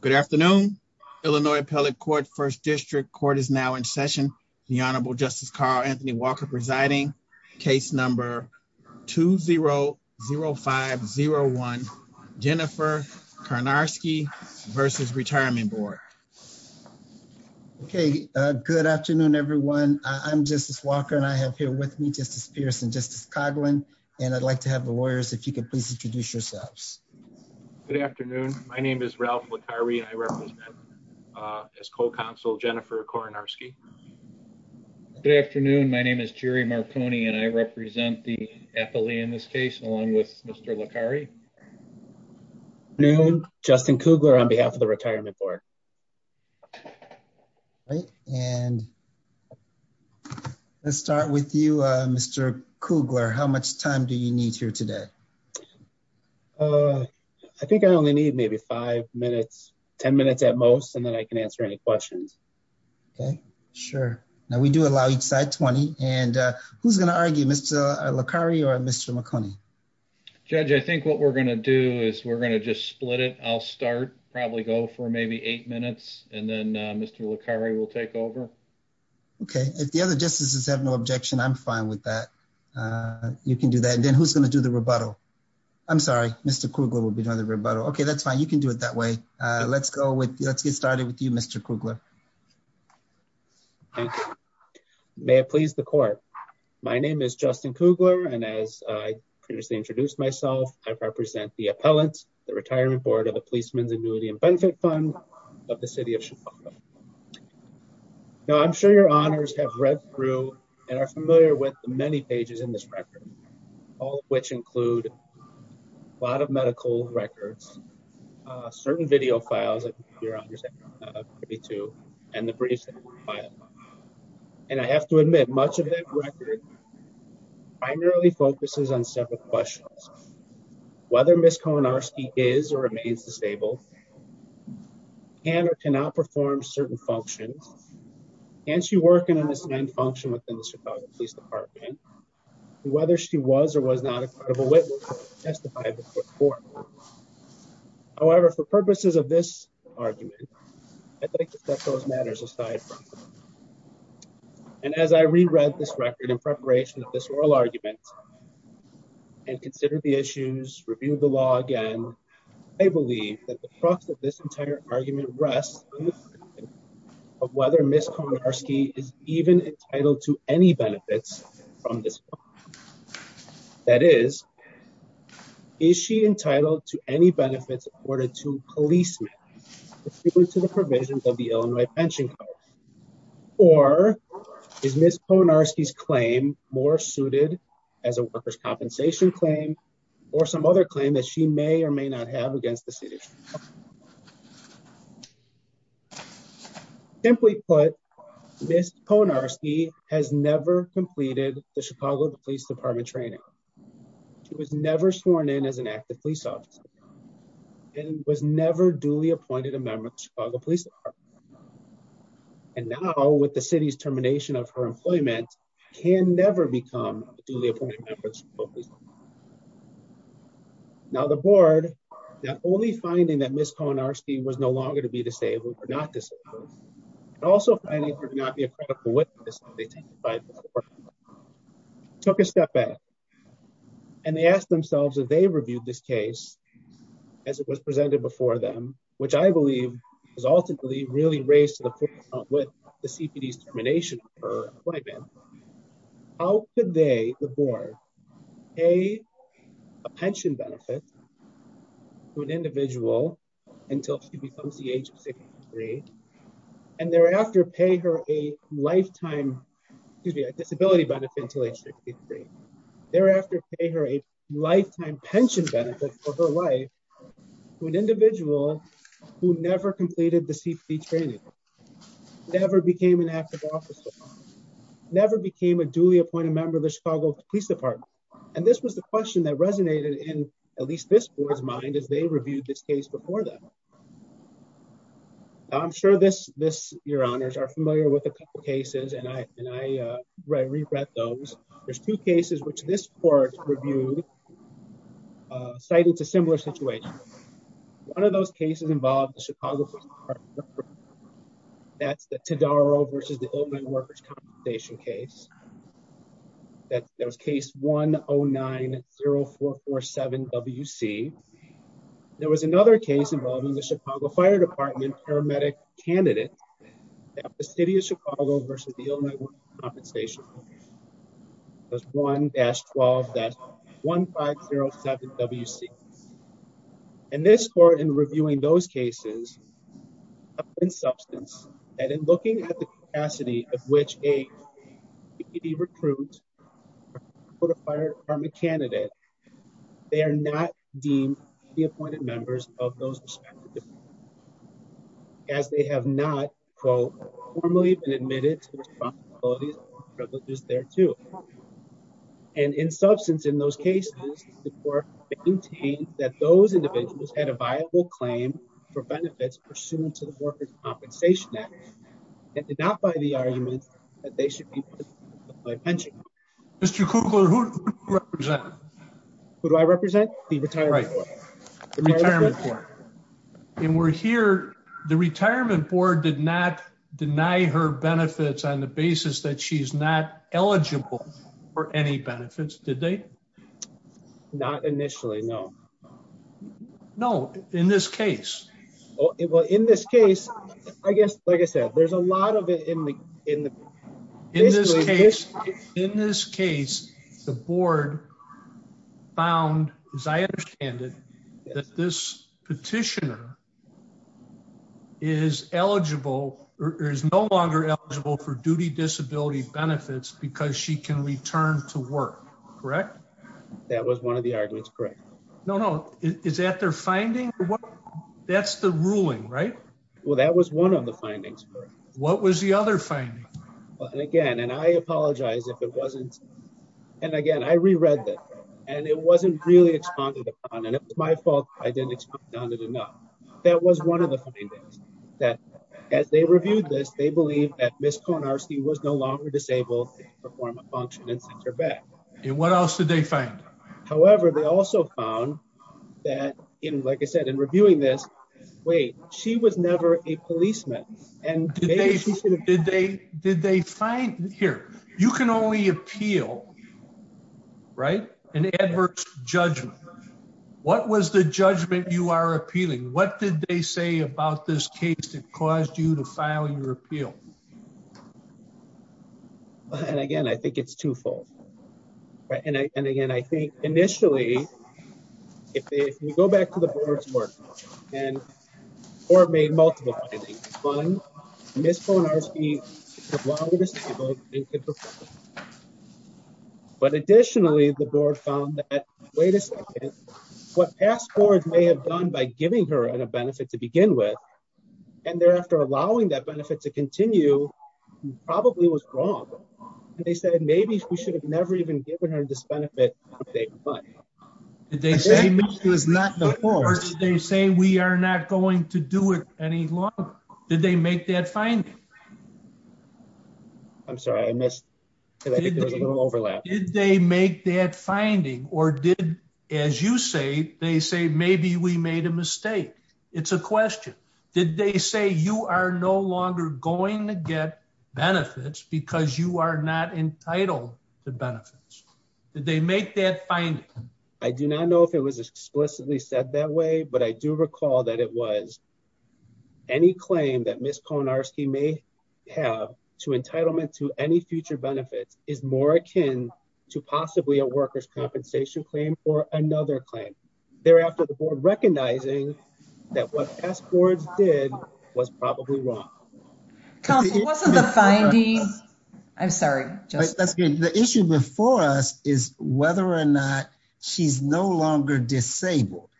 Good afternoon. Illinois Appellate Court First District Court is now in session. The Honorable Justice Carl Anthony Walker presiding. Case number 2-0-0-5-0-1. Jennifer Karnarski versus Retirement Board. Okay, good afternoon everyone. I'm Justice Walker and I have here with me Justice Pierce and Justice Coghlan and I'd like to have the lawyers, if you could please introduce yourselves. Good afternoon. My name is Ralph Licari and I represent as co-counsel Jennifer Karnarski. Good afternoon. My name is Jerry Marconi and I represent the appellee in this case along with Mr. Licari. Good afternoon. Justin Kugler on behalf of the Retirement Board. All right and let's start with you Mr. Kugler. How much time do you need here today? Uh, I think I only need maybe five minutes, 10 minutes at most and then I can answer any questions. Okay, sure. Now we do allow each side 20 and who's going to argue? Mr. Licari or Mr. Marconi? Judge, I think what we're going to do is we're going to just split it. I'll start, probably go for maybe eight minutes and then Mr. Licari will take over. Okay, if the other justices have no objection, I'm fine with that. You can do that. Then who's going to do the rebuttal? I'm sorry, Mr. Kugler will be doing the rebuttal. Okay, that's fine. You can do it that way. Let's go with, let's get started with you Mr. Kugler. May it please the court. My name is Justin Kugler and as I previously introduced myself, I represent the appellants, the Retirement Board of the Policeman's Annuity and Benefit Fund of the City of Chicago. Now I'm sure your honors have read through and are familiar with the many a lot of medical records, certain video files that your honors have agreed to and the briefs and I have to admit much of that record primarily focuses on several questions. Whether Ms. Koenarski is or remains disabled, can or cannot perform certain functions, can she work in an assigned function within the Chicago Police Department, whether she was or was not a credible witness to testify before court. However, for purposes of this argument, I'd like to set those matters aside and as I re-read this record in preparation of this oral argument and consider the issues, review the law again, I believe that the crux of this entire argument rests in the question of whether Ms. Koenarski is even entitled to any benefits from this. That is, is she entitled to any benefits accorded to policemen to the provisions of the Illinois Pension Code or is Ms. Koenarski's claim more suited as a worker's compensation claim or some other claim that she may or may not have against the Illinois Pension Code. Simply put, Ms. Koenarski has never completed the Chicago Police Department training. She was never sworn in as an active police officer and was never duly appointed a member of the Chicago Police Department and now with the city's termination of her employment, can never become a duly appointed member of the Chicago Police Department. Now, the board, not only finding that Ms. Koenarski was no longer to be disabled or not disabled, but also finding her to not be a credible witness as they testified before, took a step back and they asked themselves if they reviewed this case as it was presented before them, which I believe is ultimately really raised to the point of what the CPD's termination of her employment, how could they, the board, pay a pension benefit to an individual until she becomes the age of 63 and thereafter pay her a lifetime, excuse me, a disability benefit until age 63, thereafter pay her a lifetime pension benefit for her life to an individual who never completed the CPD training, never became an active officer, never became a duly appointed member of the Chicago Police Department and this was the question that resonated in at least this board's mind as they reviewed this case before them. I'm sure this, your honors, are familiar with a couple cases and I re-read those. There's two cases which this court reviewed uh cited to similar situations. One of those cases involved the Chicago Police Department, that's the Todaro versus the Illinois Workers' Compensation case. That was case 1090447WC. There was another case involving the Chicago Fire Department paramedic candidate at the City of Chicago versus the Illinois Workers' Compensation. It was 1-12-1507WC. In this court, in reviewing those cases, it's been substantial that in looking at the capacity of which a CPD recruit for the fire department candidate, they are not deemed to be appointed members of those divisions as they have not, quote, formally been admitted to responsibilities and privileges thereto. And in substance, in those cases, the court maintained that those individuals had a viable claim for benefits pursuant to the Workers' Compensation Act and did not buy the argument that they should be paid by pension. Mr. Kugler, who do you represent? Who do I represent? The retirement board did not deny her benefits on the basis that she's not eligible for any benefits, did they? Not initially, no. No, in this case. Well, in this case, I guess, like I said, there's a lot of it in the... In this case, the board found, as I understand it, that this petitioner is eligible or is no longer eligible for duty disability benefits because she can return to work, correct? That was one of the arguments, correct. No, no, is that their finding? That's the ruling, right? Well, that was one of the findings. What was the other finding? Again, and I apologize if it wasn't... And again, I reread this and it wasn't really expounded upon and it was my fault I didn't expound on it enough. That was one of the findings, that as they reviewed this, they believe that Ms. Conarstie was no longer disabled to perform a function and sent her back. And what else did they find? However, they also found that, like I said, in reviewing this, wait, she was never a policeman. Did they find... Here, you can only appeal, right? An adverse judgment. What was the judgment you are appealing? What did they say about this case that caused you to file your appeal? And again, I think it's twofold, right? And again, I think initially, if we go back to the board's work and the board made multiple findings. One, Ms. Conarstie was no longer disabled and could perform. But additionally, the board found that, wait a second, what past boards may have done by giving her a benefit to begin with and thereafter allowing that benefit to continue probably was wrong. And they said, maybe we should have never even given her this benefit if they would. Did they say, we are not going to do it any longer? Did they make that finding? I'm sorry, I missed. I think there was a little overlap. Did they make that finding or did, as you say, they say, maybe we made a mistake? It's a question. Did they say you are no longer going to get benefits because you are not entitled to benefits? Did they make that finding? I do not know if it was explicitly said that way, but I do recall that it was any claim that Ms. Conarstie may have to entitlement to any future benefits is more akin to possibly a worker's compensation claim or another claim. Thereafter, the board recognizing that what past boards did was probably wrong. Council, wasn't the finding... I'm sorry, just... That's good. The issue before us is whether or not she's no longer disabled.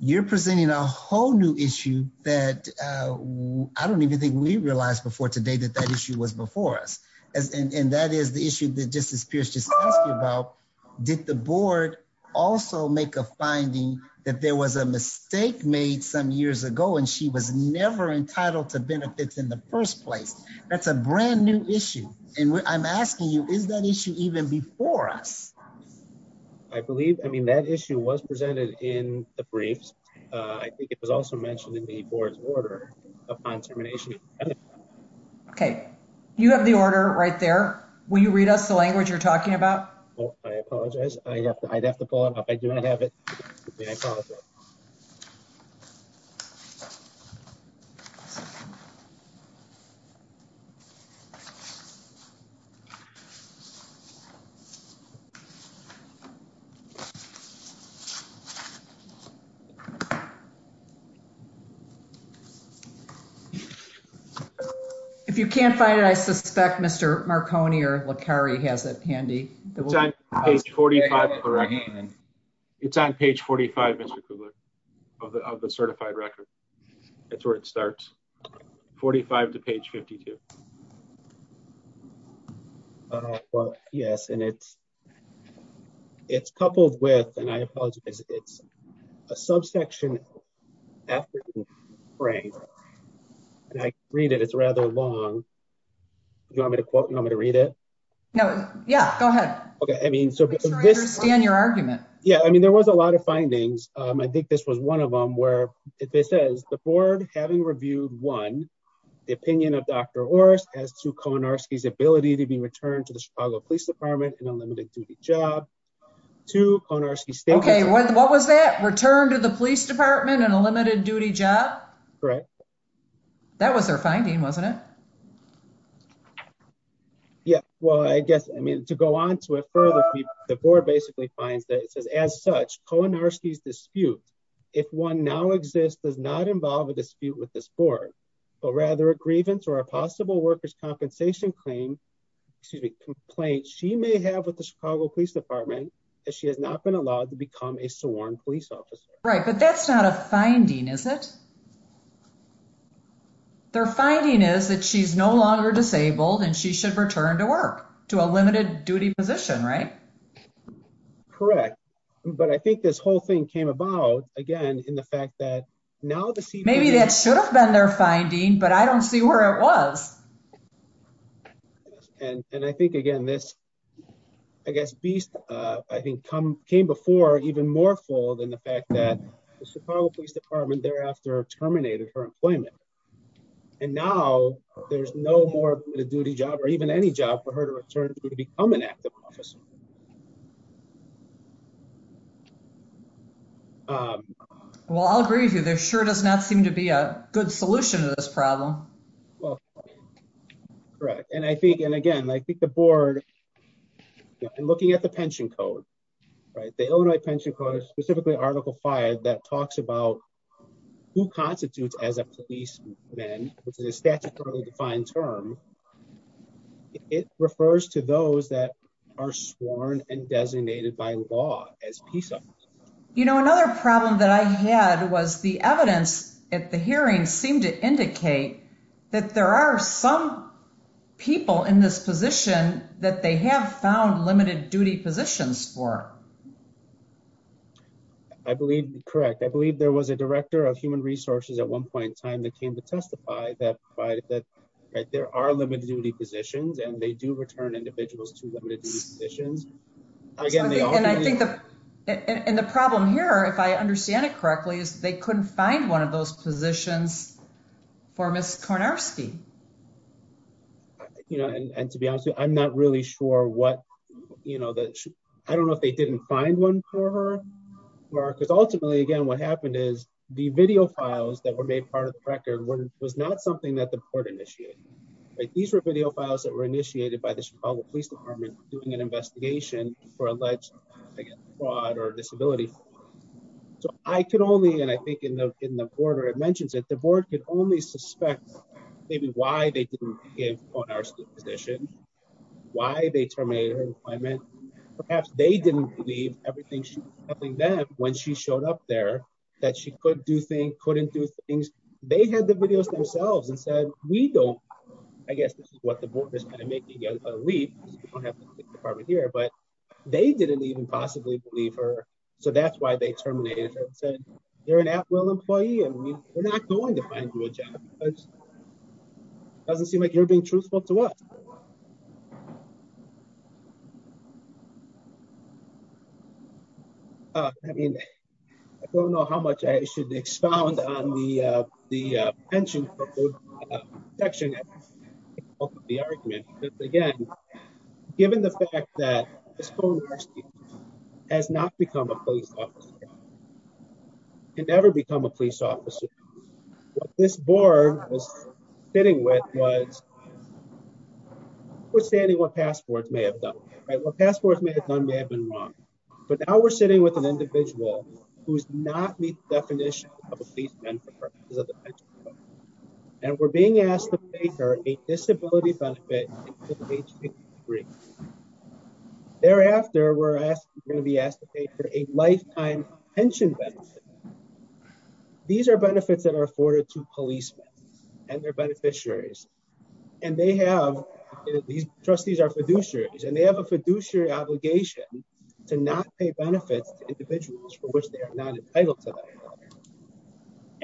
You're presenting a whole new issue that I don't even think we realized before today that that issue was before us. And that is the issue that Justice Pierce just asked me about. Did the board also make a finding that there was a mistake made some years ago and she was never entitled to benefits in the first place? That's a brand new issue. And I'm asking you, is that issue even before us? I believe, I mean, that issue was presented in the briefs. I think it was also mentioned in the board's order upon termination. Okay. You have the order right there. Will you read us the language you're talking about? I apologize. I'd have to pull it up. I do not have it. I apologize. If you can't find it, I suspect Mr. Marconi or LaCarrie has it handy. It's on page 45 of the certified record. That's where it starts. 45 to page 52. Yes. And it's coupled with, and I apologize, it's a subsection after the phrase. And I read it, it's rather long. Do you want me to quote? Do you want me to read it? No. Yeah, go ahead. Okay. I mean, so I understand your argument. Yeah. I mean, there was a lot of findings. I think this was one of them where it says the board having reviewed one, the opinion of Dr. Horst as to Konarski's ability to be returned to the Chicago police department in a limited duty job to Konarski. Okay. What was that? Return to the police department in a limited duty job? Correct. That was their finding, wasn't it? Yeah. Well, I guess, I mean, to go on to it further, the board basically finds that it says, as such Konarski's dispute, if one now exists, does not involve a dispute with this board, but rather a grievance or a possible workers' compensation claim, excuse me, complaint she may have with the Chicago police department that she has not been allowed to become a sworn police officer. Right. But that's not a finding, is it? Their finding is that she's no longer disabled and she should return to work, to a limited duty position, right? Correct. But I think this whole thing came about, again, in the fact that now... Maybe that should have been their finding, but I don't see where it was. And I think, again, this, I guess, beast, I think, came before even more full than the fact that the Chicago police department thereafter terminated her employment. And now there's no more of a duty job or even any job for her to return to, to become an active officer. Well, I'll agree with you. There sure does not seem to be a good solution to this problem. Well, correct. And I think, and again, I think the board in looking at the pension code, right? The Illinois pension code is specifically Article that talks about who constitutes as a policeman, which is a statutorily defined term. It refers to those that are sworn and designated by law as PISA. You know, another problem that I had was the evidence at the hearing seemed to indicate that there are some people in this position that they have found limited duty positions for. I believe, correct. I believe there was a director of human resources at one point in time that came to testify that there are limited duty positions and they do return individuals to limited duty positions. And I think the problem here, if I understand it correctly, is they couldn't find one of those positions for Ms. Kornarski. I think, you know, and to be honest with you, I'm not really sure what, you know, I don't know if they didn't find one for her because ultimately again, what happened is the video files that were made part of the record was not something that the board initiated, right? These were video files that were initiated by the Chicago police department doing an investigation for alleged fraud or disability. So I can only, and I think in the order it mentions it, the board could only suspect maybe why they didn't give Kornarski a position, why they terminated her employment. Perhaps they didn't believe everything she was telling them when she showed up there that she could do things, couldn't do things. They had the videos themselves and said, we don't, I guess this is what the board is kind of making a leap because we don't have the department here, but they didn't even possibly believe her. So that's it. They're an at-will employee and we're not going to find you a job. Doesn't seem like you're being truthful to us. I mean, I don't know how much I should expound on the pension protection part of the argument, but again, given the fact that Kornarski has not become a police officer, can never become a police officer. What this board was sitting with was withstanding what passports may have done, right? What passports may have done may have been wrong, but now we're sitting with an individual who's not meet the definition of a police officer. And we're being asked to pay her a disability benefit. Thereafter, we're going to be asked to pay for a lifetime pension benefit. These are benefits that are afforded to policemen and their beneficiaries. And they have, these trustees are fiduciaries and they have a fiduciary obligation to not pay benefits to individuals for which they are not entitled to that.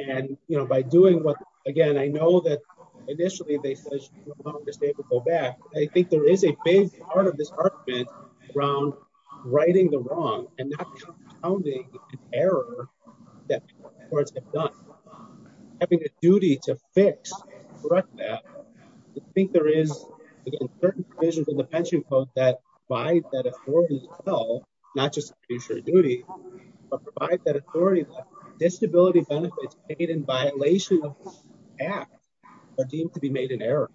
And, you know, by doing what, again, I know that initially they said she's no longer able to go back. I think there is a big part of this argument around righting the wrong and not compounding an error that the courts have done. Having a duty to fix, correct that. I think there is, again, certain provisions in the pension code that provide that authority as well, not just fiduciary duty, but provide that authority that disability benefits paid in violation of the act are deemed to be made an error.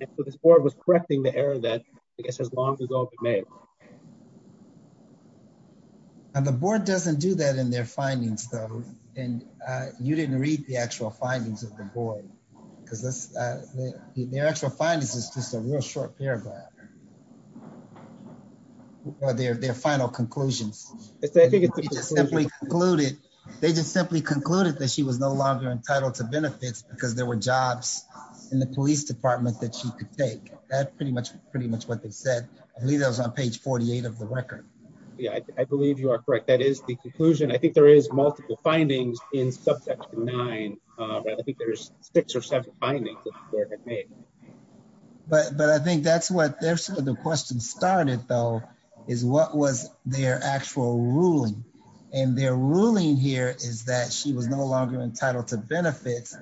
And so this board was correcting the error that I guess has long ago been made. And the board doesn't do that in their findings though. And you didn't read the actual findings of the board because their actual findings is just a real short paragraph. Or their final conclusions. They just simply concluded that she was no longer entitled to benefits because there were jobs in the police department that she could take. That's pretty much what they said. I believe that was on page 48 of the record. Yeah, I believe you are correct. I think there is multiple findings in subsection nine, but I think there's six or seven findings. But I think that's where the question started though, is what was their actual ruling? And their ruling here is that she was no longer entitled to benefits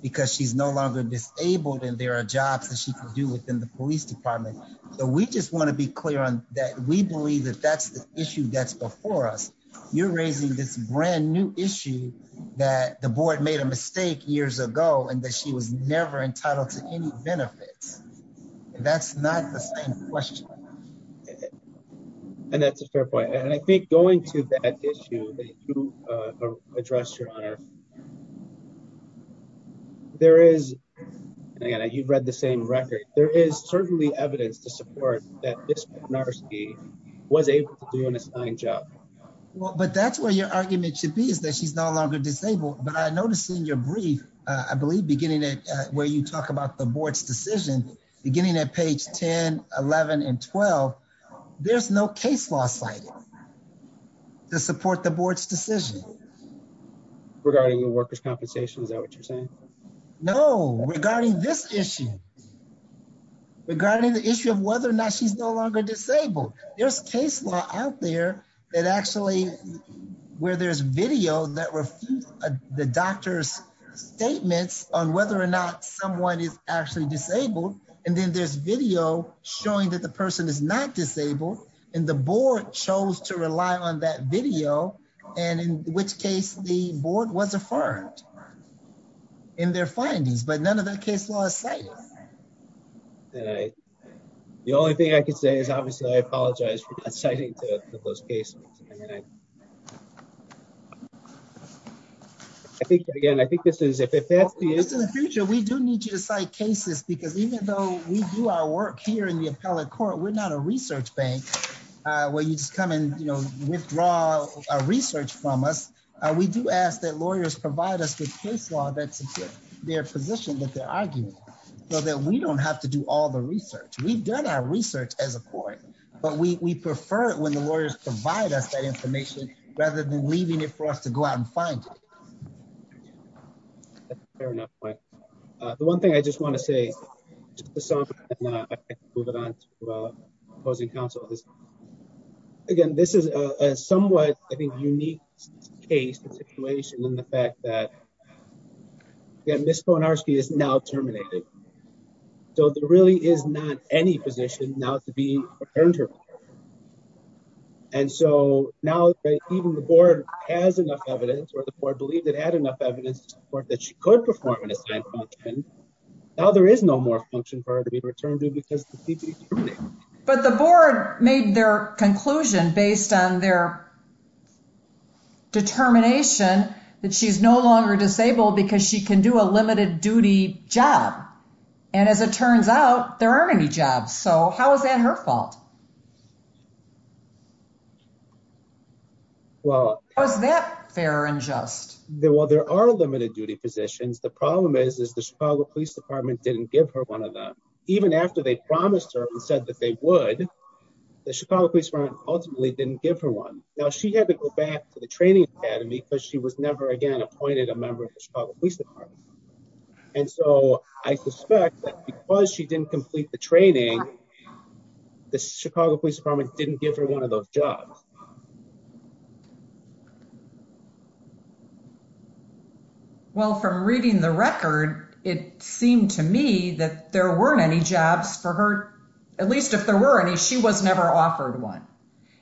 because she's no longer disabled and there are jobs that she can do within the police department. So we just want to be clear on that. We believe that that's the issue that's before us. You're raising this brand new issue that the board made a mistake years ago and that she was never entitled to any benefits. That's not the same question. And that's a fair point. And I think going to that issue that you addressed, your honor, there is, and again you've read the same record, there is certainly evidence to support that this woman was able to do an assigned job. Well, but that's where your argument should be, is that she's no longer disabled. But I noticed in your brief, I believe beginning at where you talk about the board's decision, beginning at page 10, 11, and 12, there's no case law cited to support the board's decision. Regarding the workers' compensation, is that what you're saying? No, regarding this issue, regarding the issue of whether or not she's no longer disabled, there's case law out there that actually, where there's video that refutes the doctor's statements on whether or not someone is actually disabled. And then there's video showing that the person is not disabled and the board chose to rely on that video, and in which case the board was affirmed in their findings, but none of that case law is cited. The only thing I can say is, obviously, I apologize for not citing those cases. I think, again, I think this is, if that's the future, we do need you to cite cases, because even though we do our work here in the appellate court, we're not a research bank where you just come and, you know, withdraw a research from us. We do ask that lawyers provide us with case law that supports their position, that their argument, so that we don't have to do all the research. We've done our research as a court, but we prefer it when the lawyers provide us that information rather than leaving it for us to go out and find it. That's a fair enough point. The one thing I just want to say, just to sum it up, and then I can move it on to opposing counsel, is, again, this is a somewhat, I think, unique case, the situation, and the fact that, again, Ms. Konarski is now terminated. So there really is not any position now to be returned to her. And so now that even the board has enough evidence, or the board believed it had enough evidence to support that she could perform an assigned function, now there is no more function for her to be returned to, because she's been terminated. But the board made their conclusion based on their determination that she's no longer disabled because she can do a limited duty job. And as it turns out, there aren't any jobs. So how is that her fault? How is that fair and just? Well, there are limited duty positions. The problem is, is the Chicago Police Department didn't give her one of them. Even after they promised her and said that they would, the Chicago Police Department ultimately didn't give her one. Now, she had to go back to the training academy because she was never, again, appointed a member of the Chicago Police Department. And so I suspect that because she didn't complete the training, the Chicago Police Department didn't give her one of those jobs. Well, from reading the record, it seemed to me that there weren't any jobs for her, at least if there were any, she was never offered one.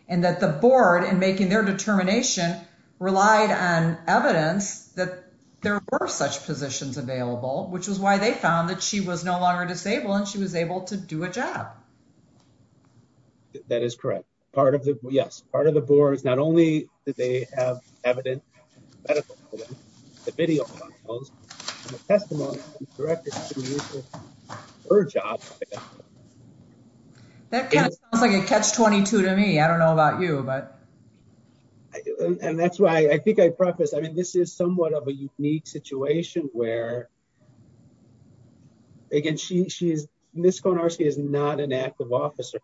And that the board, in making their positions available, which was why they found that she was no longer disabled and she was able to do a job. That is correct. Part of the, yes, part of the board is not only did they have evidence, the video testimony directed to her job. That sounds like a catch-22 to me. I don't know about you, but. And that's why I think I prefaced, I mean, this is somewhat of a unique situation where, again, Ms. Konarski is not an active officer.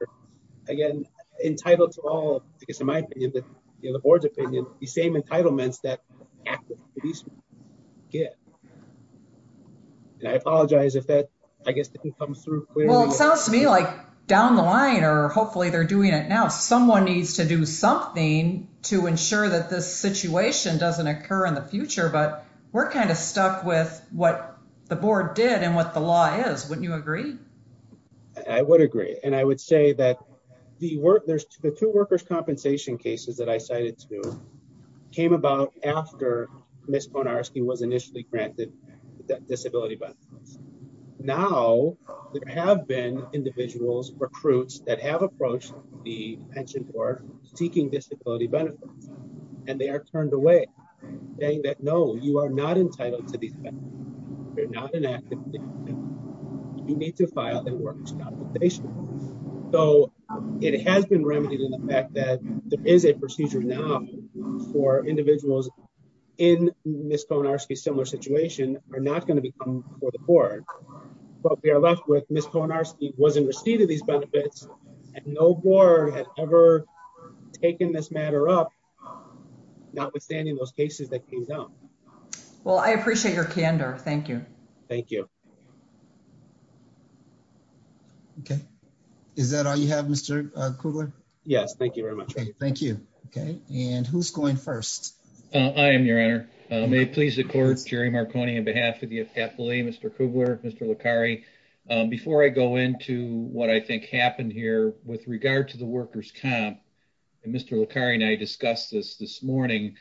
Again, entitled to all, because in my opinion, the board's opinion, the same entitlements that active police get. And I apologize if that, I guess, didn't come through clearly. Well, it sounds to me like down the line, or hopefully they're doing it now, someone needs to do something to ensure that this situation doesn't occur in the future, but we're kind of stuck with what the board did and what the law is. Wouldn't you agree? I would agree. And I would say that there's the two workers' compensation cases that I cited to came about after Ms. Konarski was initially granted disability benefits. Now, there have been individuals, recruits, that have approached the pension board seeking disability benefits, and they are turned away, saying that, no, you are not entitled to these benefits. You're not an active participant. You need to file the workers' compensation. So it has been remedied in the fact that there is a procedure now for individuals in Ms. Konarski's similar situation are not going to be coming before the board, but we are left with Ms. Konarski was in receipt of these benefits, and no board had ever taken this matter up, notwithstanding those cases that came down. Well, I appreciate your candor. Thank you. Thank you. Okay. Is that all you have, Mr. Kugler? Yes. Thank you very much. Okay. Thank you. Okay. And who's going first? I am, Your Honor. May it please the court, Jerry Marconi, on behalf of the FCAFLA, Mr. Kugler, Mr. Licari. Before I go into what I think happened here with regard to the workers' comp, and Mr. Licari and I discussed this this morning,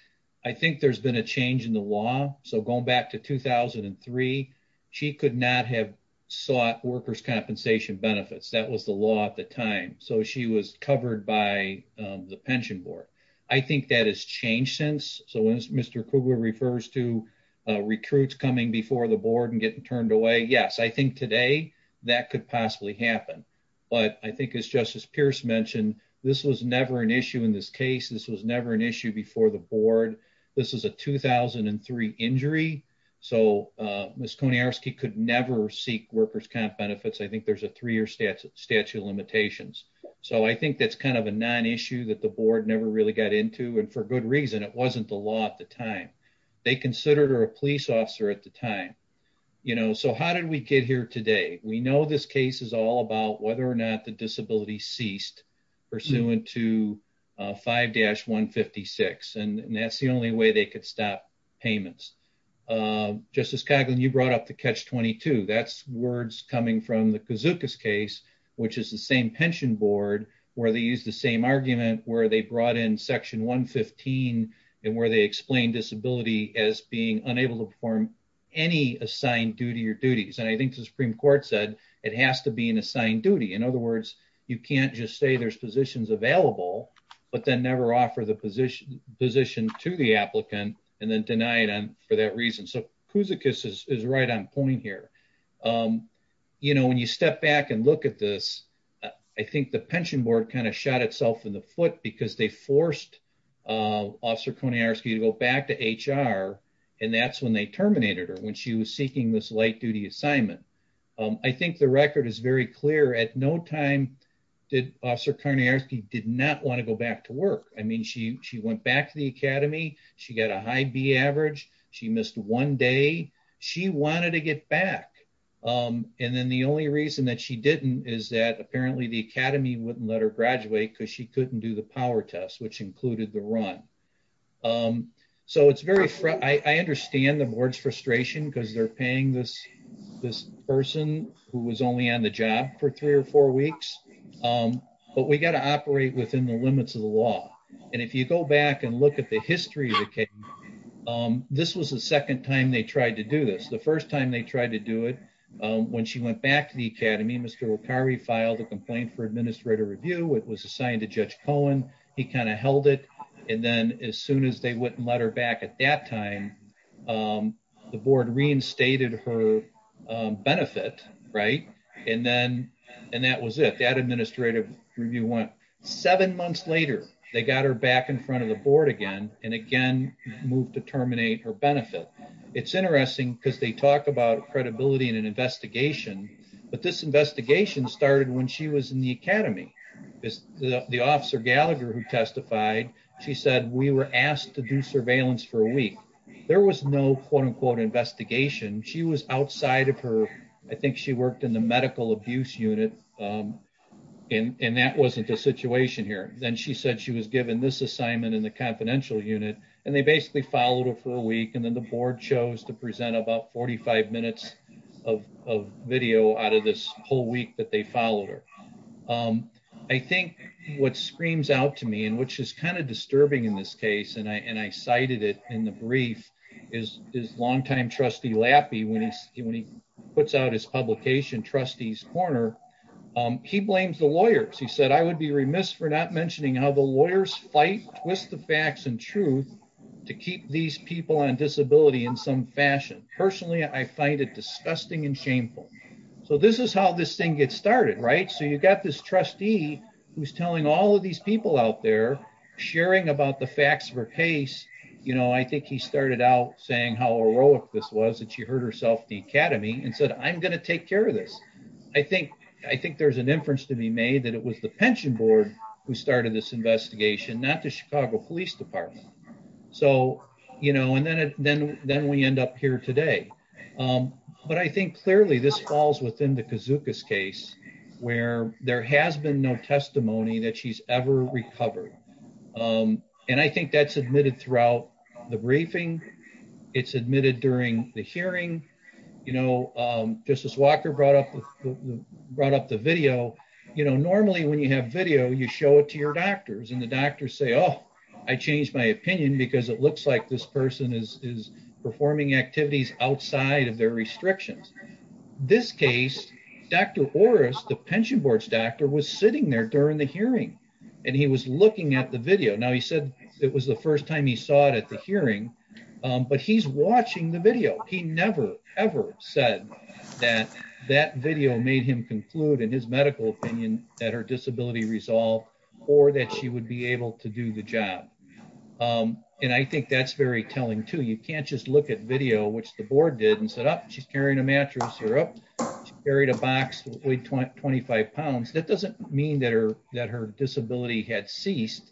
I think there's been a change in the law. So going back to 2003, she could not have sought workers' compensation benefits. That was the law at the time. So she was covered by the pension board. I think that has changed since. So when Mr. Kugler refers to recruits coming before the board and getting turned away, yes, I think today that could possibly happen. But I think as Justice Pierce mentioned, this was never an issue in this case. This was never an issue before the board. This was a 2003 injury. So Ms. Konarski could never seek workers' comp benefits. I think there's a three-year statute of limitations. So I think that's kind of a non-issue that the board never really got into, and for good reason. It wasn't the law at the time. They considered her a police officer at the time. So how did we get here today? We know this case is all about whether or not the disability ceased pursuant to 5-156, and that's the only way they could stop payments. Justice Coghlan, you brought up the catch-22. That's words coming from the Kazuka's case, which is the same board where they used the same argument, where they brought in Section 115, and where they explained disability as being unable to perform any assigned duty or duties. And I think the Supreme Court said it has to be an assigned duty. In other words, you can't just say there's positions available, but then never offer the position to the applicant and then deny it for that reason. So step back and look at this. I think the pension board kind of shot itself in the foot because they forced Officer Korniarski to go back to HR, and that's when they terminated her, when she was seeking this light-duty assignment. I think the record is very clear. At no time did Officer Korniarski not want to go back to work. I mean, she went back to the academy. She got a high B average. She missed one day. She wanted to get back. And then the only reason that she didn't is that apparently the academy wouldn't let her graduate because she couldn't do the power test, which included the run. So it's very... I understand the board's frustration because they're paying this person who was only on the job for three or four weeks, but we got to operate within the limits of the law. And if you go back and look at the history of the case, this was the second time they tried to do this. The first time they tried to do it, when she went back to the academy, Mr. Okari filed a complaint for administrator review. It was assigned to Judge Cohen. He kind of held it. And then as soon as they wouldn't let her back at that time, the board reinstated her benefit, right? And then, and that was it. That administrative review went. Seven months later, they got her back in front of the board again, and again, moved to terminate her benefit. It's interesting because they talk about credibility in an investigation, but this investigation started when she was in the academy. The officer Gallagher who testified, she said, we were asked to do surveillance for a week. There was no quote unquote investigation. She was outside of her, I think she worked in the medical abuse unit and that wasn't a situation here. Then she said she was given this assignment in the confidential unit and they basically followed her for a week. And then the board chose to present about 45 minutes of video out of this whole week that they followed her. I think what screams out to me and which is kind of disturbing in this case, and I cited it in the brief, is his longtime trustee Lappy when he puts out his publication, trustees corner, he blames the lawyers. He said, I would be remiss for not mentioning how the lawyers fight, twist the facts and truth to keep these people on disability in some fashion. Personally, I find it disgusting and shameful. So this is how this thing gets started, right? So you've got this trustee who's telling all of these people out there, sharing about the facts of her case. I think he started out saying how heroic this was that she hurt herself at the academy and said, I'm going to take care of this. I think there's an inference to be made that it was the pension board who started this investigation, not the Chicago police department. So, and then we end up here today. But I think clearly this falls within the recovery. And I think that's admitted throughout the briefing. It's admitted during the hearing, you know, justice Walker brought up, brought up the video. You know, normally when you have video, you show it to your doctors and the doctors say, Oh, I changed my opinion because it looks like this person is performing activities outside of their restrictions. This case, Dr. Horace, the pension board's doctor was sitting there during the hearing. And he was looking at the video. Now he said it was the first time he saw it at the hearing, but he's watching the video. He never ever said that that video made him conclude in his medical opinion that her disability resolved or that she would be able to do the job. And I think that's very telling too. You can't just look at video, which the board did and said, Oh, she's carrying a mattress or up. She carried a 25 pounds. That doesn't mean that her, that her disability had ceased.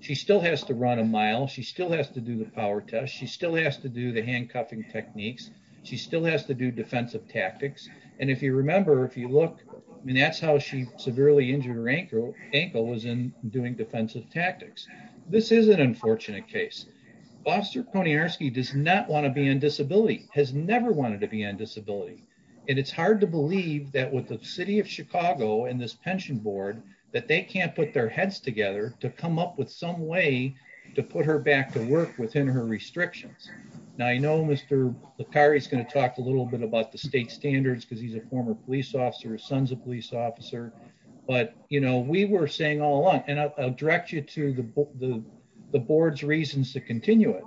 She still has to run a mile. She still has to do the power test. She still has to do the handcuffing techniques. She still has to do defensive tactics. And if you remember, if you look, I mean, that's how she severely injured her ankle, ankle was in doing defensive tactics. This is an unfortunate case. Foster Poniarski does not want to be in disability has never wanted to be on disability. And it's hard to believe that with the city of Chicago and this pension board, that they can't put their heads together to come up with some way to put her back to work within her restrictions. Now, I know Mr. LaCari is going to talk a little bit about the state standards because he's a former police officer, his son's a police officer, but you know, we were saying all along and I'll direct you to the, the, the board's reasons to continue it.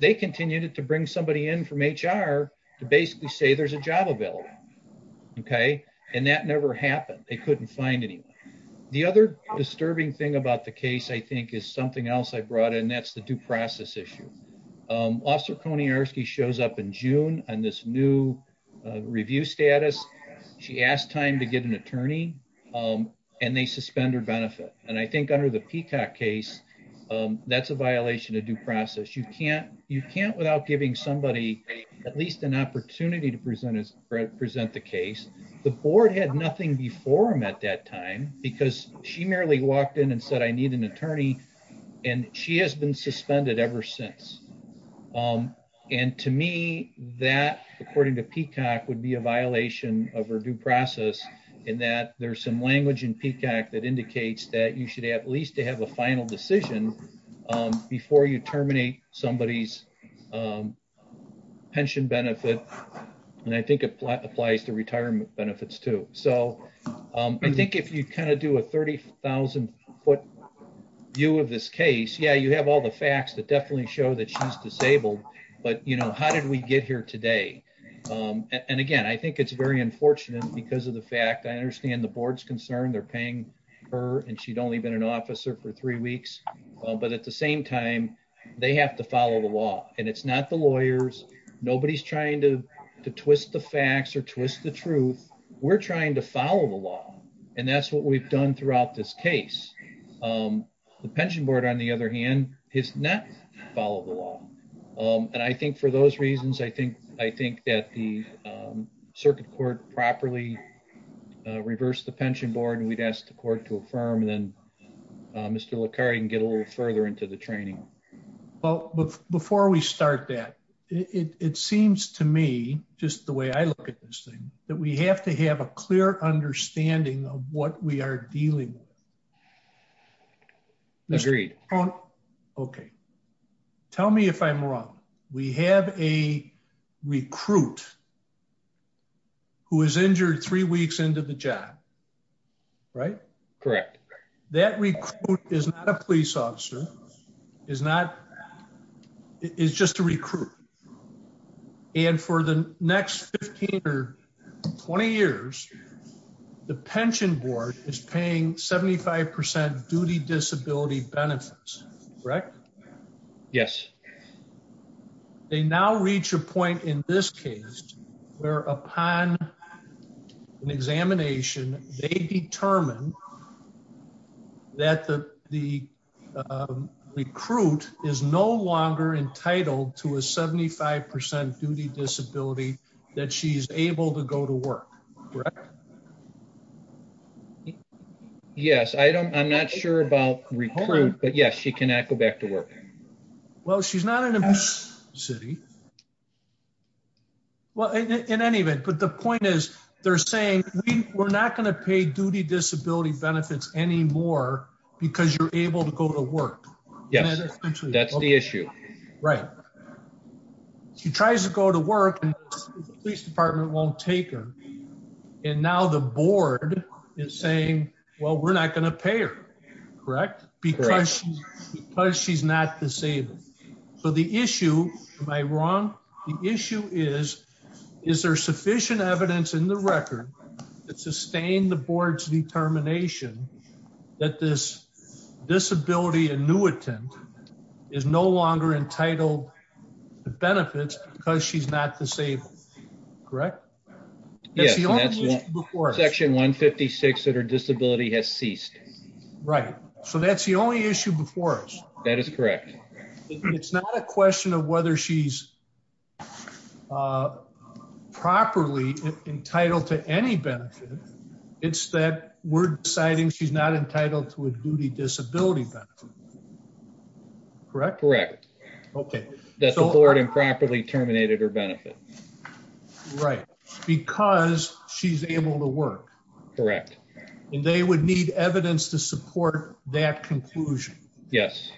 They continued it to bring somebody in from HR to basically say there's a job available. Okay. And that never happened. They couldn't find anyone. The other disturbing thing about the case, I think is something else I brought in. That's the due process issue. Officer Poniarski shows up in June on this new review status. She asked time to get an attorney and they suspend her benefit. And I somebody at least an opportunity to present as present the case. The board had nothing before him at that time because she merely walked in and said, I need an attorney. And she has been suspended ever since. And to me that according to Peacock would be a violation of her due process in that there's some language in Peacock that indicates that you should at least to have a pension benefit. And I think it applies to retirement benefits too. So I think if you kind of do a 30,000 foot view of this case, yeah, you have all the facts that definitely show that she's disabled, but you know, how did we get here today? And again, I think it's very unfortunate because of the fact, I understand the board's concerned they're paying her and she'd only been an officer for three weeks, but at the same time they have to follow the law and it's not the lawyers. Nobody's trying to twist the facts or twist the truth. We're trying to follow the law. And that's what we've done throughout this case. The pension board on the other hand is not follow the law. And I think for those reasons, I think that the circuit court properly reversed the pension board and we'd asked the court to affirm and then Mr. Licari can get a little further into the training. Well, before we start that, it seems to me just the way I look at this thing, that we have to have a clear understanding of what we are dealing with. Agreed. Okay. Tell me if I'm wrong. We have a recruit who was injured three weeks into the job, right? Correct. That recruit is not a police officer. It's just a recruit. And for the next 15 or 20 years, the pension board is paying 75% duty disability benefits, correct? Yes. They now reach a point in this case where upon an examination, they determine that the recruit is no longer entitled to a 75% duty disability that she's able to go to work. Correct? Yes. I'm not sure about recruit, but yes, she cannot go back to work. Well, she's not in a city. Well, in any event, but the point is they're saying we're not going pay duty disability benefits anymore because you're able to go to work. Yes. That's the issue. Right. She tries to go to work and the police department won't take her. And now the board is saying, well, we're not going to pay her, correct? Because she's not disabled. So the issue, am I wrong? The issue is, is there sufficient evidence in the record that sustained the board's determination that this disability annuitant is no longer entitled to benefits because she's not disabled, correct? Yes. Section 156 that her disability has ceased. Right. So that's the only issue before us. That is correct. It's not a question of whether she's properly entitled to any benefits. It's that we're deciding she's not entitled to a duty disability benefit. Correct? Correct. Okay. That the board improperly terminated her benefit. Right. Because she's able to work. Correct. And they would need evidence to support that conclusion. Yes.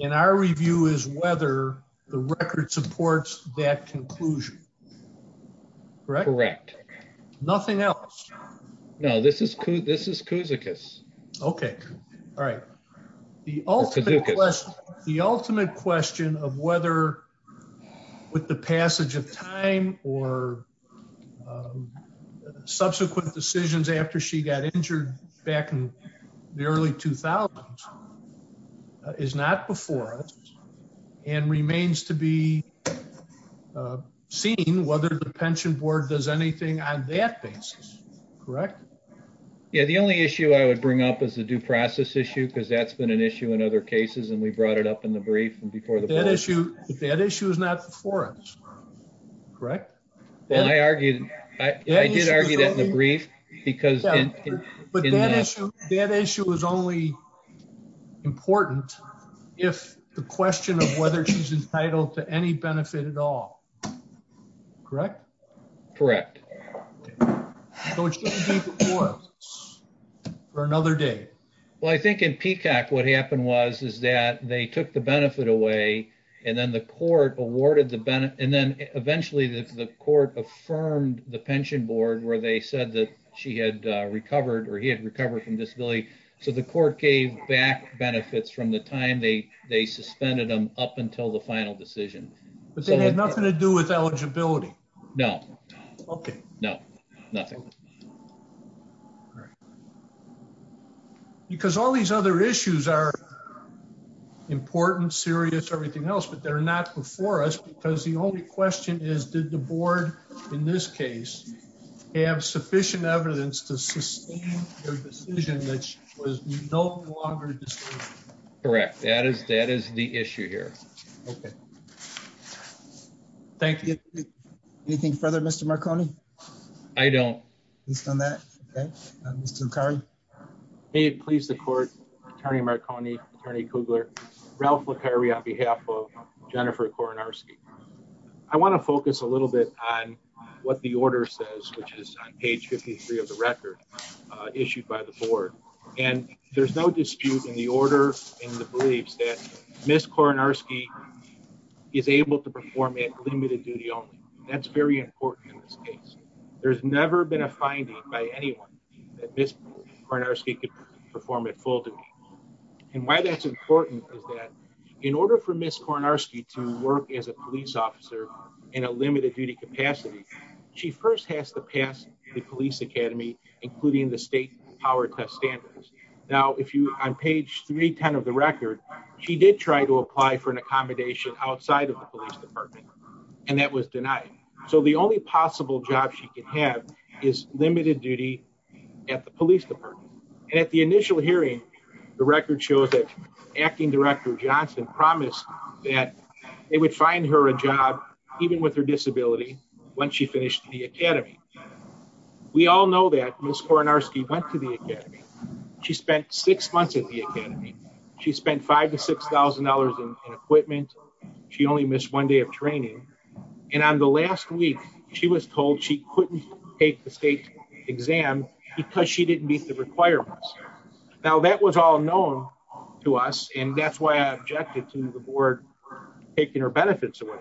And our review is whether the record supports that conclusion, correct? Correct. Nothing else. No, this is, this is Kouzikas. Okay. All right. The ultimate question of whether with the passage of time or subsequent decisions after she got injured back in the early 2000s is not before us and remains to be seen whether the pension board does anything on that basis, correct? Yeah. The only issue I would bring up is the due process issue because that's been an issue in other cases and we brought it up in the brief and before the board. That issue is not before us, correct? Well, I argued, I did argue that in the brief because. But that issue is only important if the question of whether she's entitled to any benefit at all, correct? Correct. Or for another day. Well, I think in Peacock, what happened was is that they took the benefit away and then the court awarded the benefit. And then eventually the court affirmed the pension board where they said that she had recovered or he had recovered from disability. So the court gave back benefits from the time they suspended them up until the final decision. But they had nothing to do with eligibility. No. Okay. No, nothing. Because all these other issues are important, serious, everything else, but they're not before us because the only question is, did the board in this case have sufficient evidence to sustain their decision that she was no longer disabled? Correct. That is the issue here. Okay. Thank you. Anything further, Mr. Marconi? I don't. He's done that. Okay. Mr. Curry. Hey, please. The court attorney Marconi, attorney Kugler, Ralph McCurry on behalf of Jennifer Kornarski. I want to focus a little bit on what the order says, which is on page 53 of the record issued by the board. And there's no dispute in the order in the beliefs that Ms. Kornarski is able to perform at limited duty only. That's very important in this case. There's never been a finding by anyone that Ms. Kornarski could perform at full duty. And why that's important is that in order for Ms. Kornarski to work as a police officer in a limited duty capacity, she first has to pass the police Academy, including the state power test standards. Now, on page 310 of the record, she did try to apply for an accommodation outside of the police department and that was denied. So the only possible job she could have is limited duty at the police department. And at the initial hearing, the record shows that acting director Johnson promised that it would find her a job, even with her disability, when she finished the academy. She spent $5,000 to $6,000 in equipment. She only missed one day of training. And on the last week, she was told she couldn't take the state exam because she didn't meet the requirements. Now that was all known to us. And that's why I objected to the board taking her benefits away.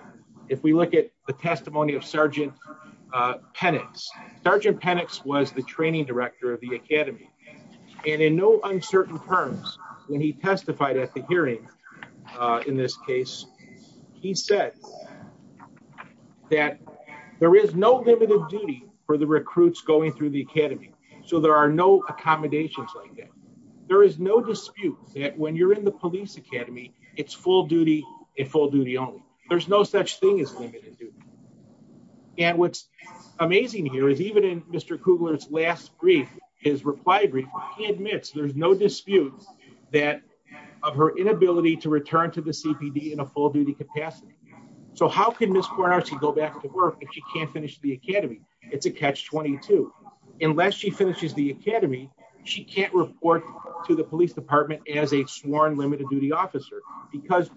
If we look at the testimony of Sergeant Penix, Sergeant Penix was the training director of the terms when he testified at the hearing. In this case, he said that there is no limited duty for the recruits going through the academy. So there are no accommodations like that. There is no dispute that when you're in the police academy, it's full duty and full duty only. There's no such thing as limited duty. And what's amazing here is even in Mr. Kugler's last brief, his reply admits there's no dispute that of her inability to return to the CPD in a full duty capacity. So how can Ms. Kornarski go back to work if she can't finish the academy? It's a catch-22. Unless she finishes the academy, she can't report to the police department as a sworn limited duty officer because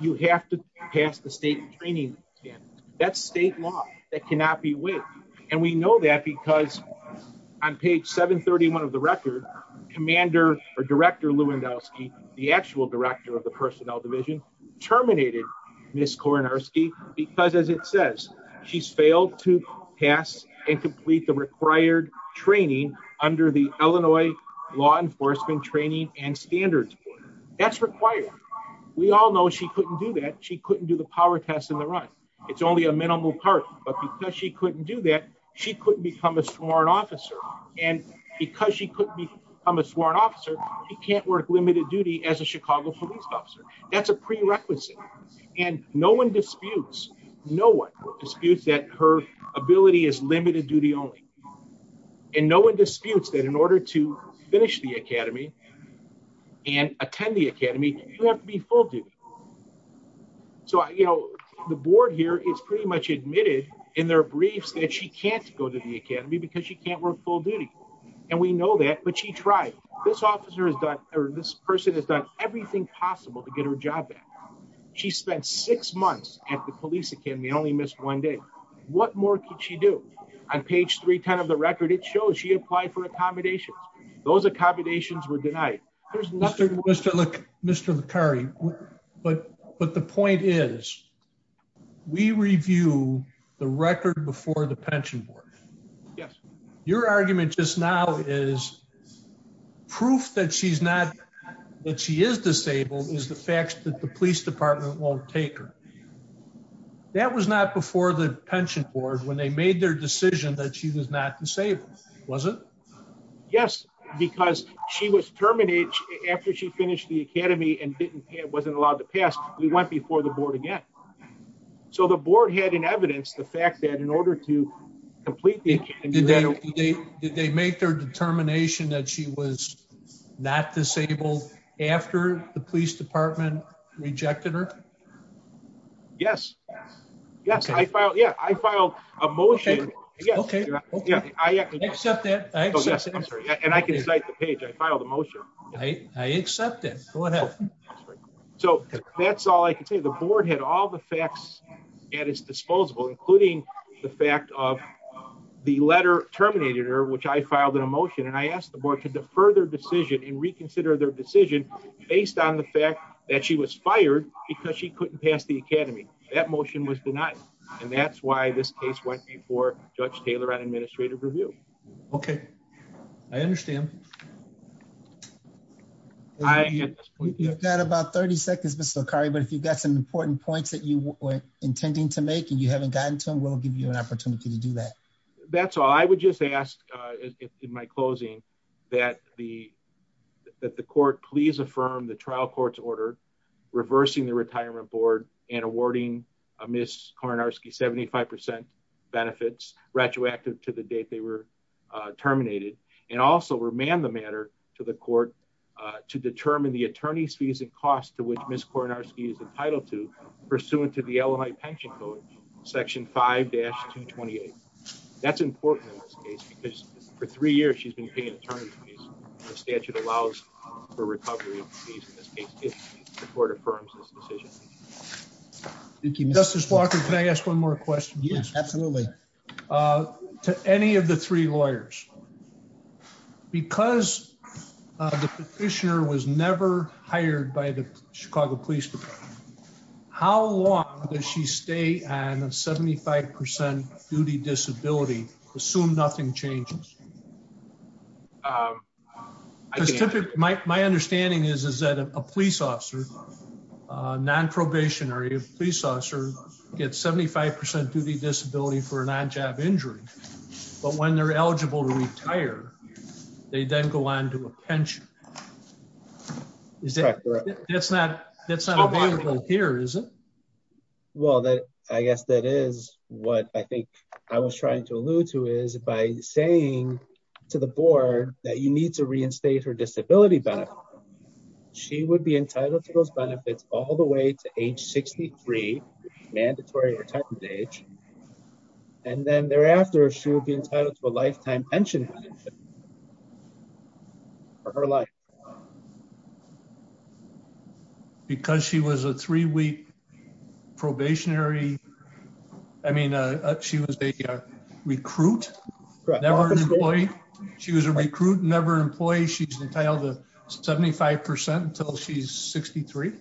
you have to pass the state training standards. That's state law. That cannot be waived. And we know that because on page 731 of the record, commander or director Lewandowski, the actual director of the personnel division, terminated Ms. Kornarski because as it says, she's failed to pass and complete the required training under the Illinois law enforcement training and standards. That's required. We all know she couldn't do that. It's only a minimal part. But because she couldn't do that, she couldn't become a sworn officer. And because she couldn't become a sworn officer, she can't work limited duty as a Chicago police officer. That's a prerequisite. And no one disputes, no one disputes that her ability is limited duty only. And no one disputes that in order to finish the academy and attend the academy, you have to be full duty. So, you know, the board here is pretty much admitted in their briefs that she can't go to the academy because she can't work full duty. And we know that, but she tried. This officer has done, or this person has done everything possible to get her job back. She spent six months at the police academy and only missed one day. What more could she do? On page 310 of the record, it shows she applied for accommodations. Those accommodations were for the Curry. But, but the point is we review the record before the pension board. Yes. Your argument just now is proof that she's not, that she is disabled is the facts that the police department won't take her. That was not before the pension board when they made their decision that she was not disabled. Was it? Yes, because she was terminated after she finished the academy and didn't pay. It wasn't allowed to pass. We went before the board again. So the board had an evidence, the fact that in order to complete, did they make their determination that she was not disabled after the police department rejected her? Yes. Yes. I filed. Yeah. I filed a motion. Okay. Yeah. I accept that. And I can cite the page. I filed a motion. I accept it. So that's all I can say. The board had all the facts at its disposable, including the fact of the letter terminated her, which I filed in a motion. And I asked the board to defer their decision and reconsider their decision based on the fact that she was fired because she couldn't pass the academy. That motion was denied. And that's why this case went before judge Taylor and administrative review. Okay. I understand. I get that about 30 seconds, Mr. Kari, but if you've got some important points that you were intending to make and you haven't gotten to them, we'll give you an opportunity to do that. That's all I would just ask in my closing that the, that the court, please affirm the trial court's order, reversing the retirement board and awarding a miss Kornarski, 75% benefits retroactive to the date they were terminated. And also remand the matter to the court, uh, to determine the attorney's fees and costs to which Miss Kornarski is entitled to pursuant to the Illinois pension code, section five dash 2 28. That's important in this case because for three years, she's been paying attorney's fees. The statute allows for recovery. The court affirms this decision. Thank you, Mr. Spock. Can I ask one more question? Yes, absolutely. Uh, to any of the three lawyers, because the petitioner was never hired by the Chicago police department, how long does she stay on a 75% duty disability assume nothing changes? My, my understanding is, is that a police officer, a non-probationary police officer gets 75% duty disability for a non-job injury, but when they're eligible to retire, they then go on to a pension. Is that correct? That's not, that's not available here, is it? Well, that, I guess that is what I think I was trying to allude to is by saying to the board that you need to reinstate her disability back. She would be entitled to those benefits all the age 63 mandatory retirement age. And then thereafter she would be entitled to a lifetime pension for her life because she was a three week probationary. I mean, uh, she was a recruit. She was a recruit, never employee. She's entitled to 75% until she's 63.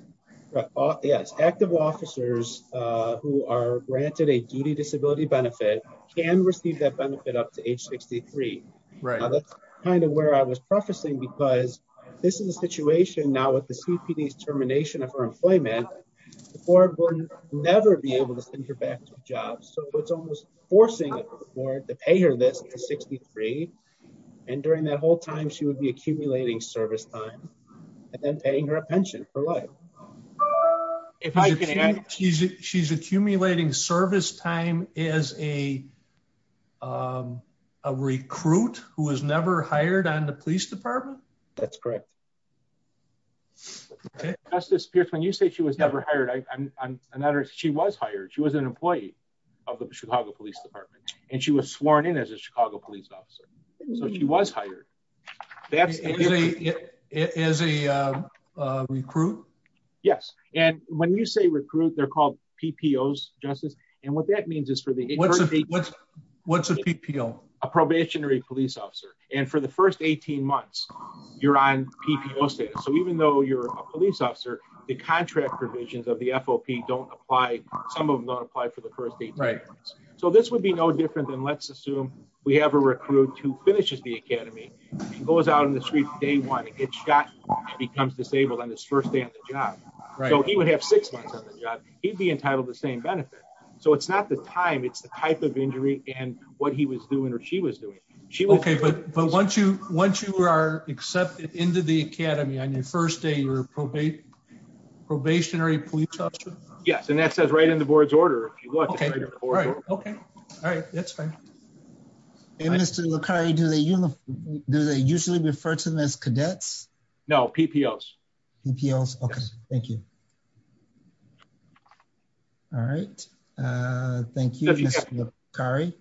Yes. Active officers who are granted a duty disability benefit can receive that benefit up to age 63. That's kind of where I was prefacing because this is a situation now with the CPD's termination of her employment, the board would never be able to send her back to a job. So it's almost forcing the board to pay her this at 63. And during that whole time, she would be accumulating service time and then paying her a pension for life. She's accumulating service time as a, um, a recruit who was never hired on the police department. That's correct. Justice Pierce, when you say she was never hired, I'm not, she was hired. She was an employee of the Chicago police department and she was sworn in as a Chicago police officer. So she was hired as a recruit. Yes. And when you say recruit, they're called PPO's justice. And what that means is for the, what's a PPO, a probationary police officer. And for the first 18 months you're on PPO status. So even though you're a police officer, the contract provisions of the FOP don't apply. Some of them don't apply for the first day. So this would be no different than we have a recruit who finishes the academy and goes out on the street day one and gets shot and becomes disabled on his first day on the job. So he would have six months on the job. He'd be entitled to the same benefit. So it's not the time, it's the type of injury and what he was doing or she was doing. Okay. But, but once you, once you are accepted into the academy on your first day, you're a probationary police officer? Yes. And that says right in the board's order. All right. Okay. All right. That's fine. And Mr. Lucari, do they, do they usually refer to them as cadets? No, PPO's. PPO's. Okay. Thank you. All right. Thank you, Mr. Lucari.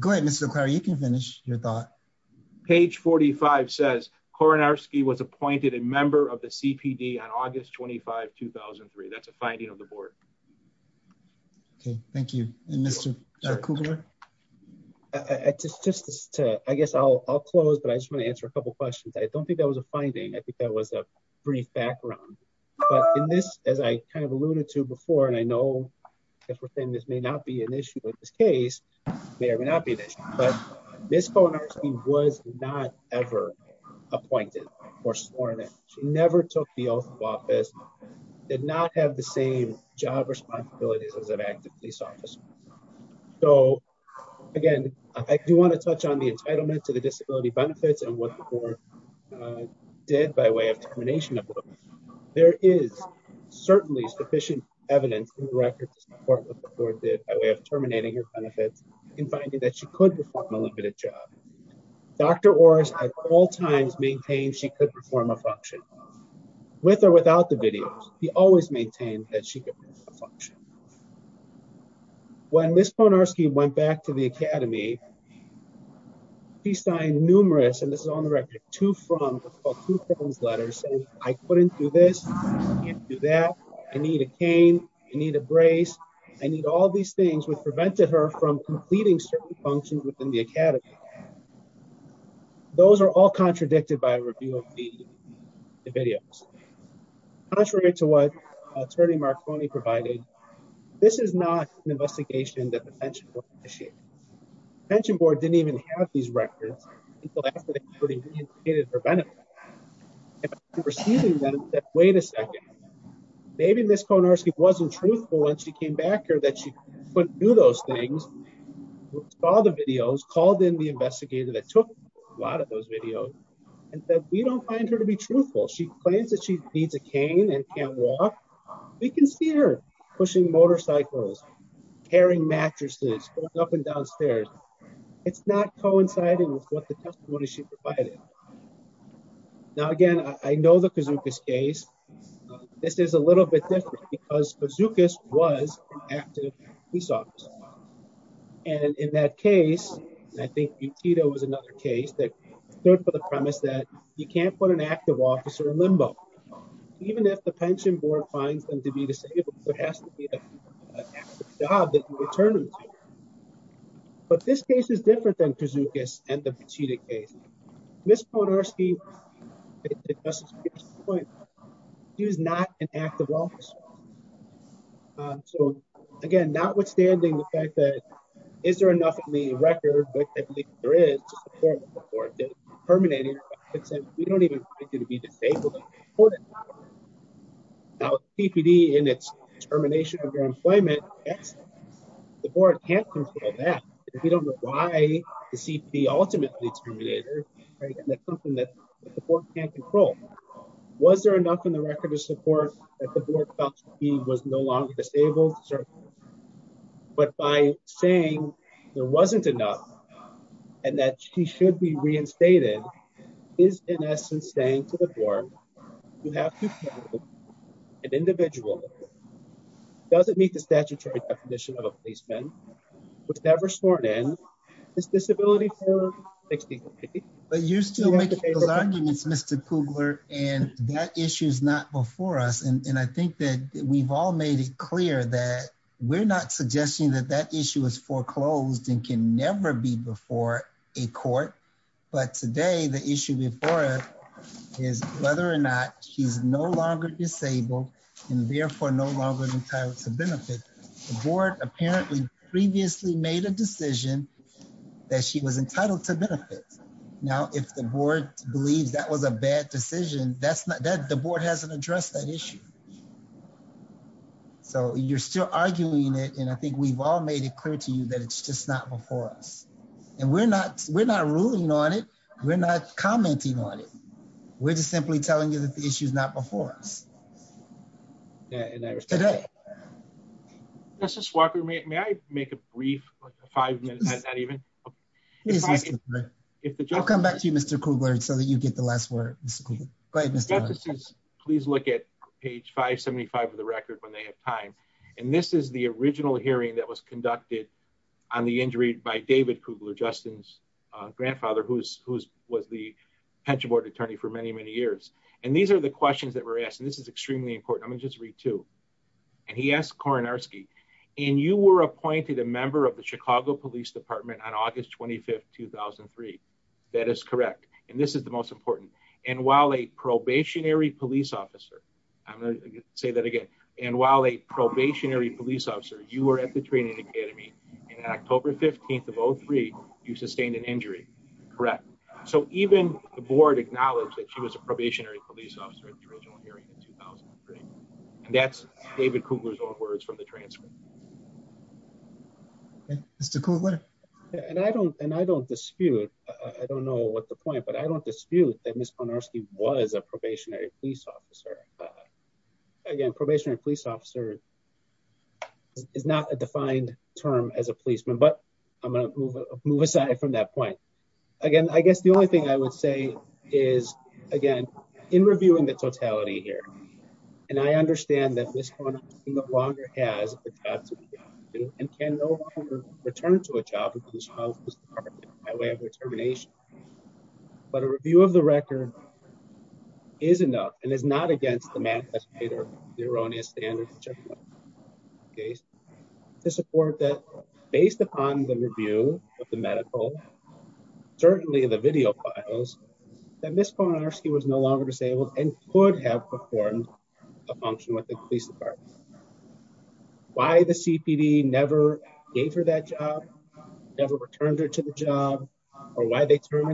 Go ahead, Mr. Lucari, you can finish your thought. Page 45 says Kornarski was appointed a member of the board. Okay. Thank you. And Mr. Kugler? I just, just to, I guess I'll, I'll close, but I just want to answer a couple of questions. I don't think that was a finding. I think that was a brief background, but in this, as I kind of alluded to before, and I know if we're saying this may not be an issue with this case, may or may not be an issue, but Ms. Kornarski was not ever appointed or sworn in. She never took the oath of office, did not have the same job responsibilities as an active police officer. So again, I do want to touch on the entitlement to the disability benefits and what the board did by way of termination. There is certainly sufficient evidence in the record to support what the board did by way of terminating her benefits and finding that she could perform a limited job. Dr. Orris at all maintained she could perform a function with or without the videos. He always maintained that she could perform a function. When Ms. Kornarski went back to the academy, he signed numerous, and this is on the record, two from, what's called two from letters saying I couldn't do this. I can't do that. I need a cane. I need a brace. I need all these things which prevented her from completing certain functions within the academy. Those are all contradicted by a review of the videos. Contrary to what attorney Marconi provided, this is not an investigation that the pension board initiated. The pension board didn't even have these records until after they re-entitled her benefits. After receiving them, they said, wait a second, maybe Ms. Kornarski wasn't truthful when she came back here that she couldn't do those things, saw the videos, called in the investigator that took a lot of those videos, and said we don't find her to be truthful. She claims that she needs a cane and can't walk. We can see her pushing motorcycles, carrying mattresses, going up and down stairs. It's not coinciding with what the testimony she provided. Now, again, I know the Kazookas case. This is a little bit different because Kazookas was an active police officer. In that case, I think Butita was another case that stood for the premise that you can't put an active officer in limbo. Even if the pension board finds them to be disabled, there has to be an active job that you return them to. But this case is different than Kazookas and the Butita case. Ms. Kornarski, she was not an active officer. Again, notwithstanding the fact that is there enough in the record, which I believe there is, to support the court that terminated her benefits, we don't even find her to be disabled. Now, CPD and its termination of your employment, the board can't control that. We don't know why CPD ultimately terminated her. That's something that the board can't control. Was there enough in the record to support that the board felt she was no longer disabled? But by saying there wasn't enough and that she should be reinstated is, in essence, saying to the board, you have an individual that doesn't meet the statutory definition of a policeman, was never sworn in, is disability-affiliated. But you're still making those arguments, Mr. Kugler, and that issue's not before us. And I think that we've all made it clear that we're not suggesting that that issue is foreclosed and can never be before a court. But today, the issue before us is whether or not she's no longer disabled and therefore no longer entitled to benefit. The board apparently previously made a decision that she was entitled to benefit. Now, if the board believes that was a bad decision, the board hasn't addressed that issue. So you're still arguing it, and I think we've all made it clear to you that it's just not before us. And we're not ruling on it. We're not commenting on it. We're just simply telling you that the issue's not before us today. Justice Walker, may I make a brief, like a five-minute, not even? I'll come back to you, Mr. Kugler, so that you get the last word. Please look at page 575 of the record when they have time. And this is the original hearing that was conducted on the injury by David Kugler, Justin's grandfather, who was the pension board attorney for many, many years. And these are the questions that were asked. And this is extremely important. I'm going to just read two. And he asked Kornarski, and you were appointed a member of the Chicago Police Department on August 25, 2003. That is correct. And this is the most important. And while a probationary police officer, I'm going to say that again. And while a probationary police officer, you were at the Academy. And on October 15 of 2003, you sustained an injury. Correct. So even the board acknowledged that she was a probationary police officer at the original hearing in 2003. And that's David Kugler's own words from the transcript. Mr. Kugler. And I don't dispute, I don't know what the point, but I don't dispute that Ms. Kornarski was a probationary police officer. It's not a defined term as a policeman, but I'm going to move aside from that point. Again, I guess the only thing I would say is again, in reviewing the totality here, and I understand that Ms. Kornarski no longer has a job to do, and can no longer return to a job with the Chicago Police Department by way of determination. But a review of the record is enough and is not against the math, the erroneous standards, to support that based upon the review of the medical, certainly the video files, that Ms. Kornarski was no longer disabled and could have performed a function with the police department. Why the CPD never gave her that job, never returned her to the job, or why they can't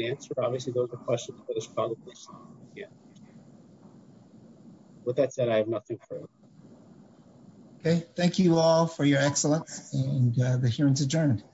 answer, obviously those are questions for the Chicago Police Department. With that said, I have nothing further. Okay, thank you all for your excellence, and the hearing's adjourned.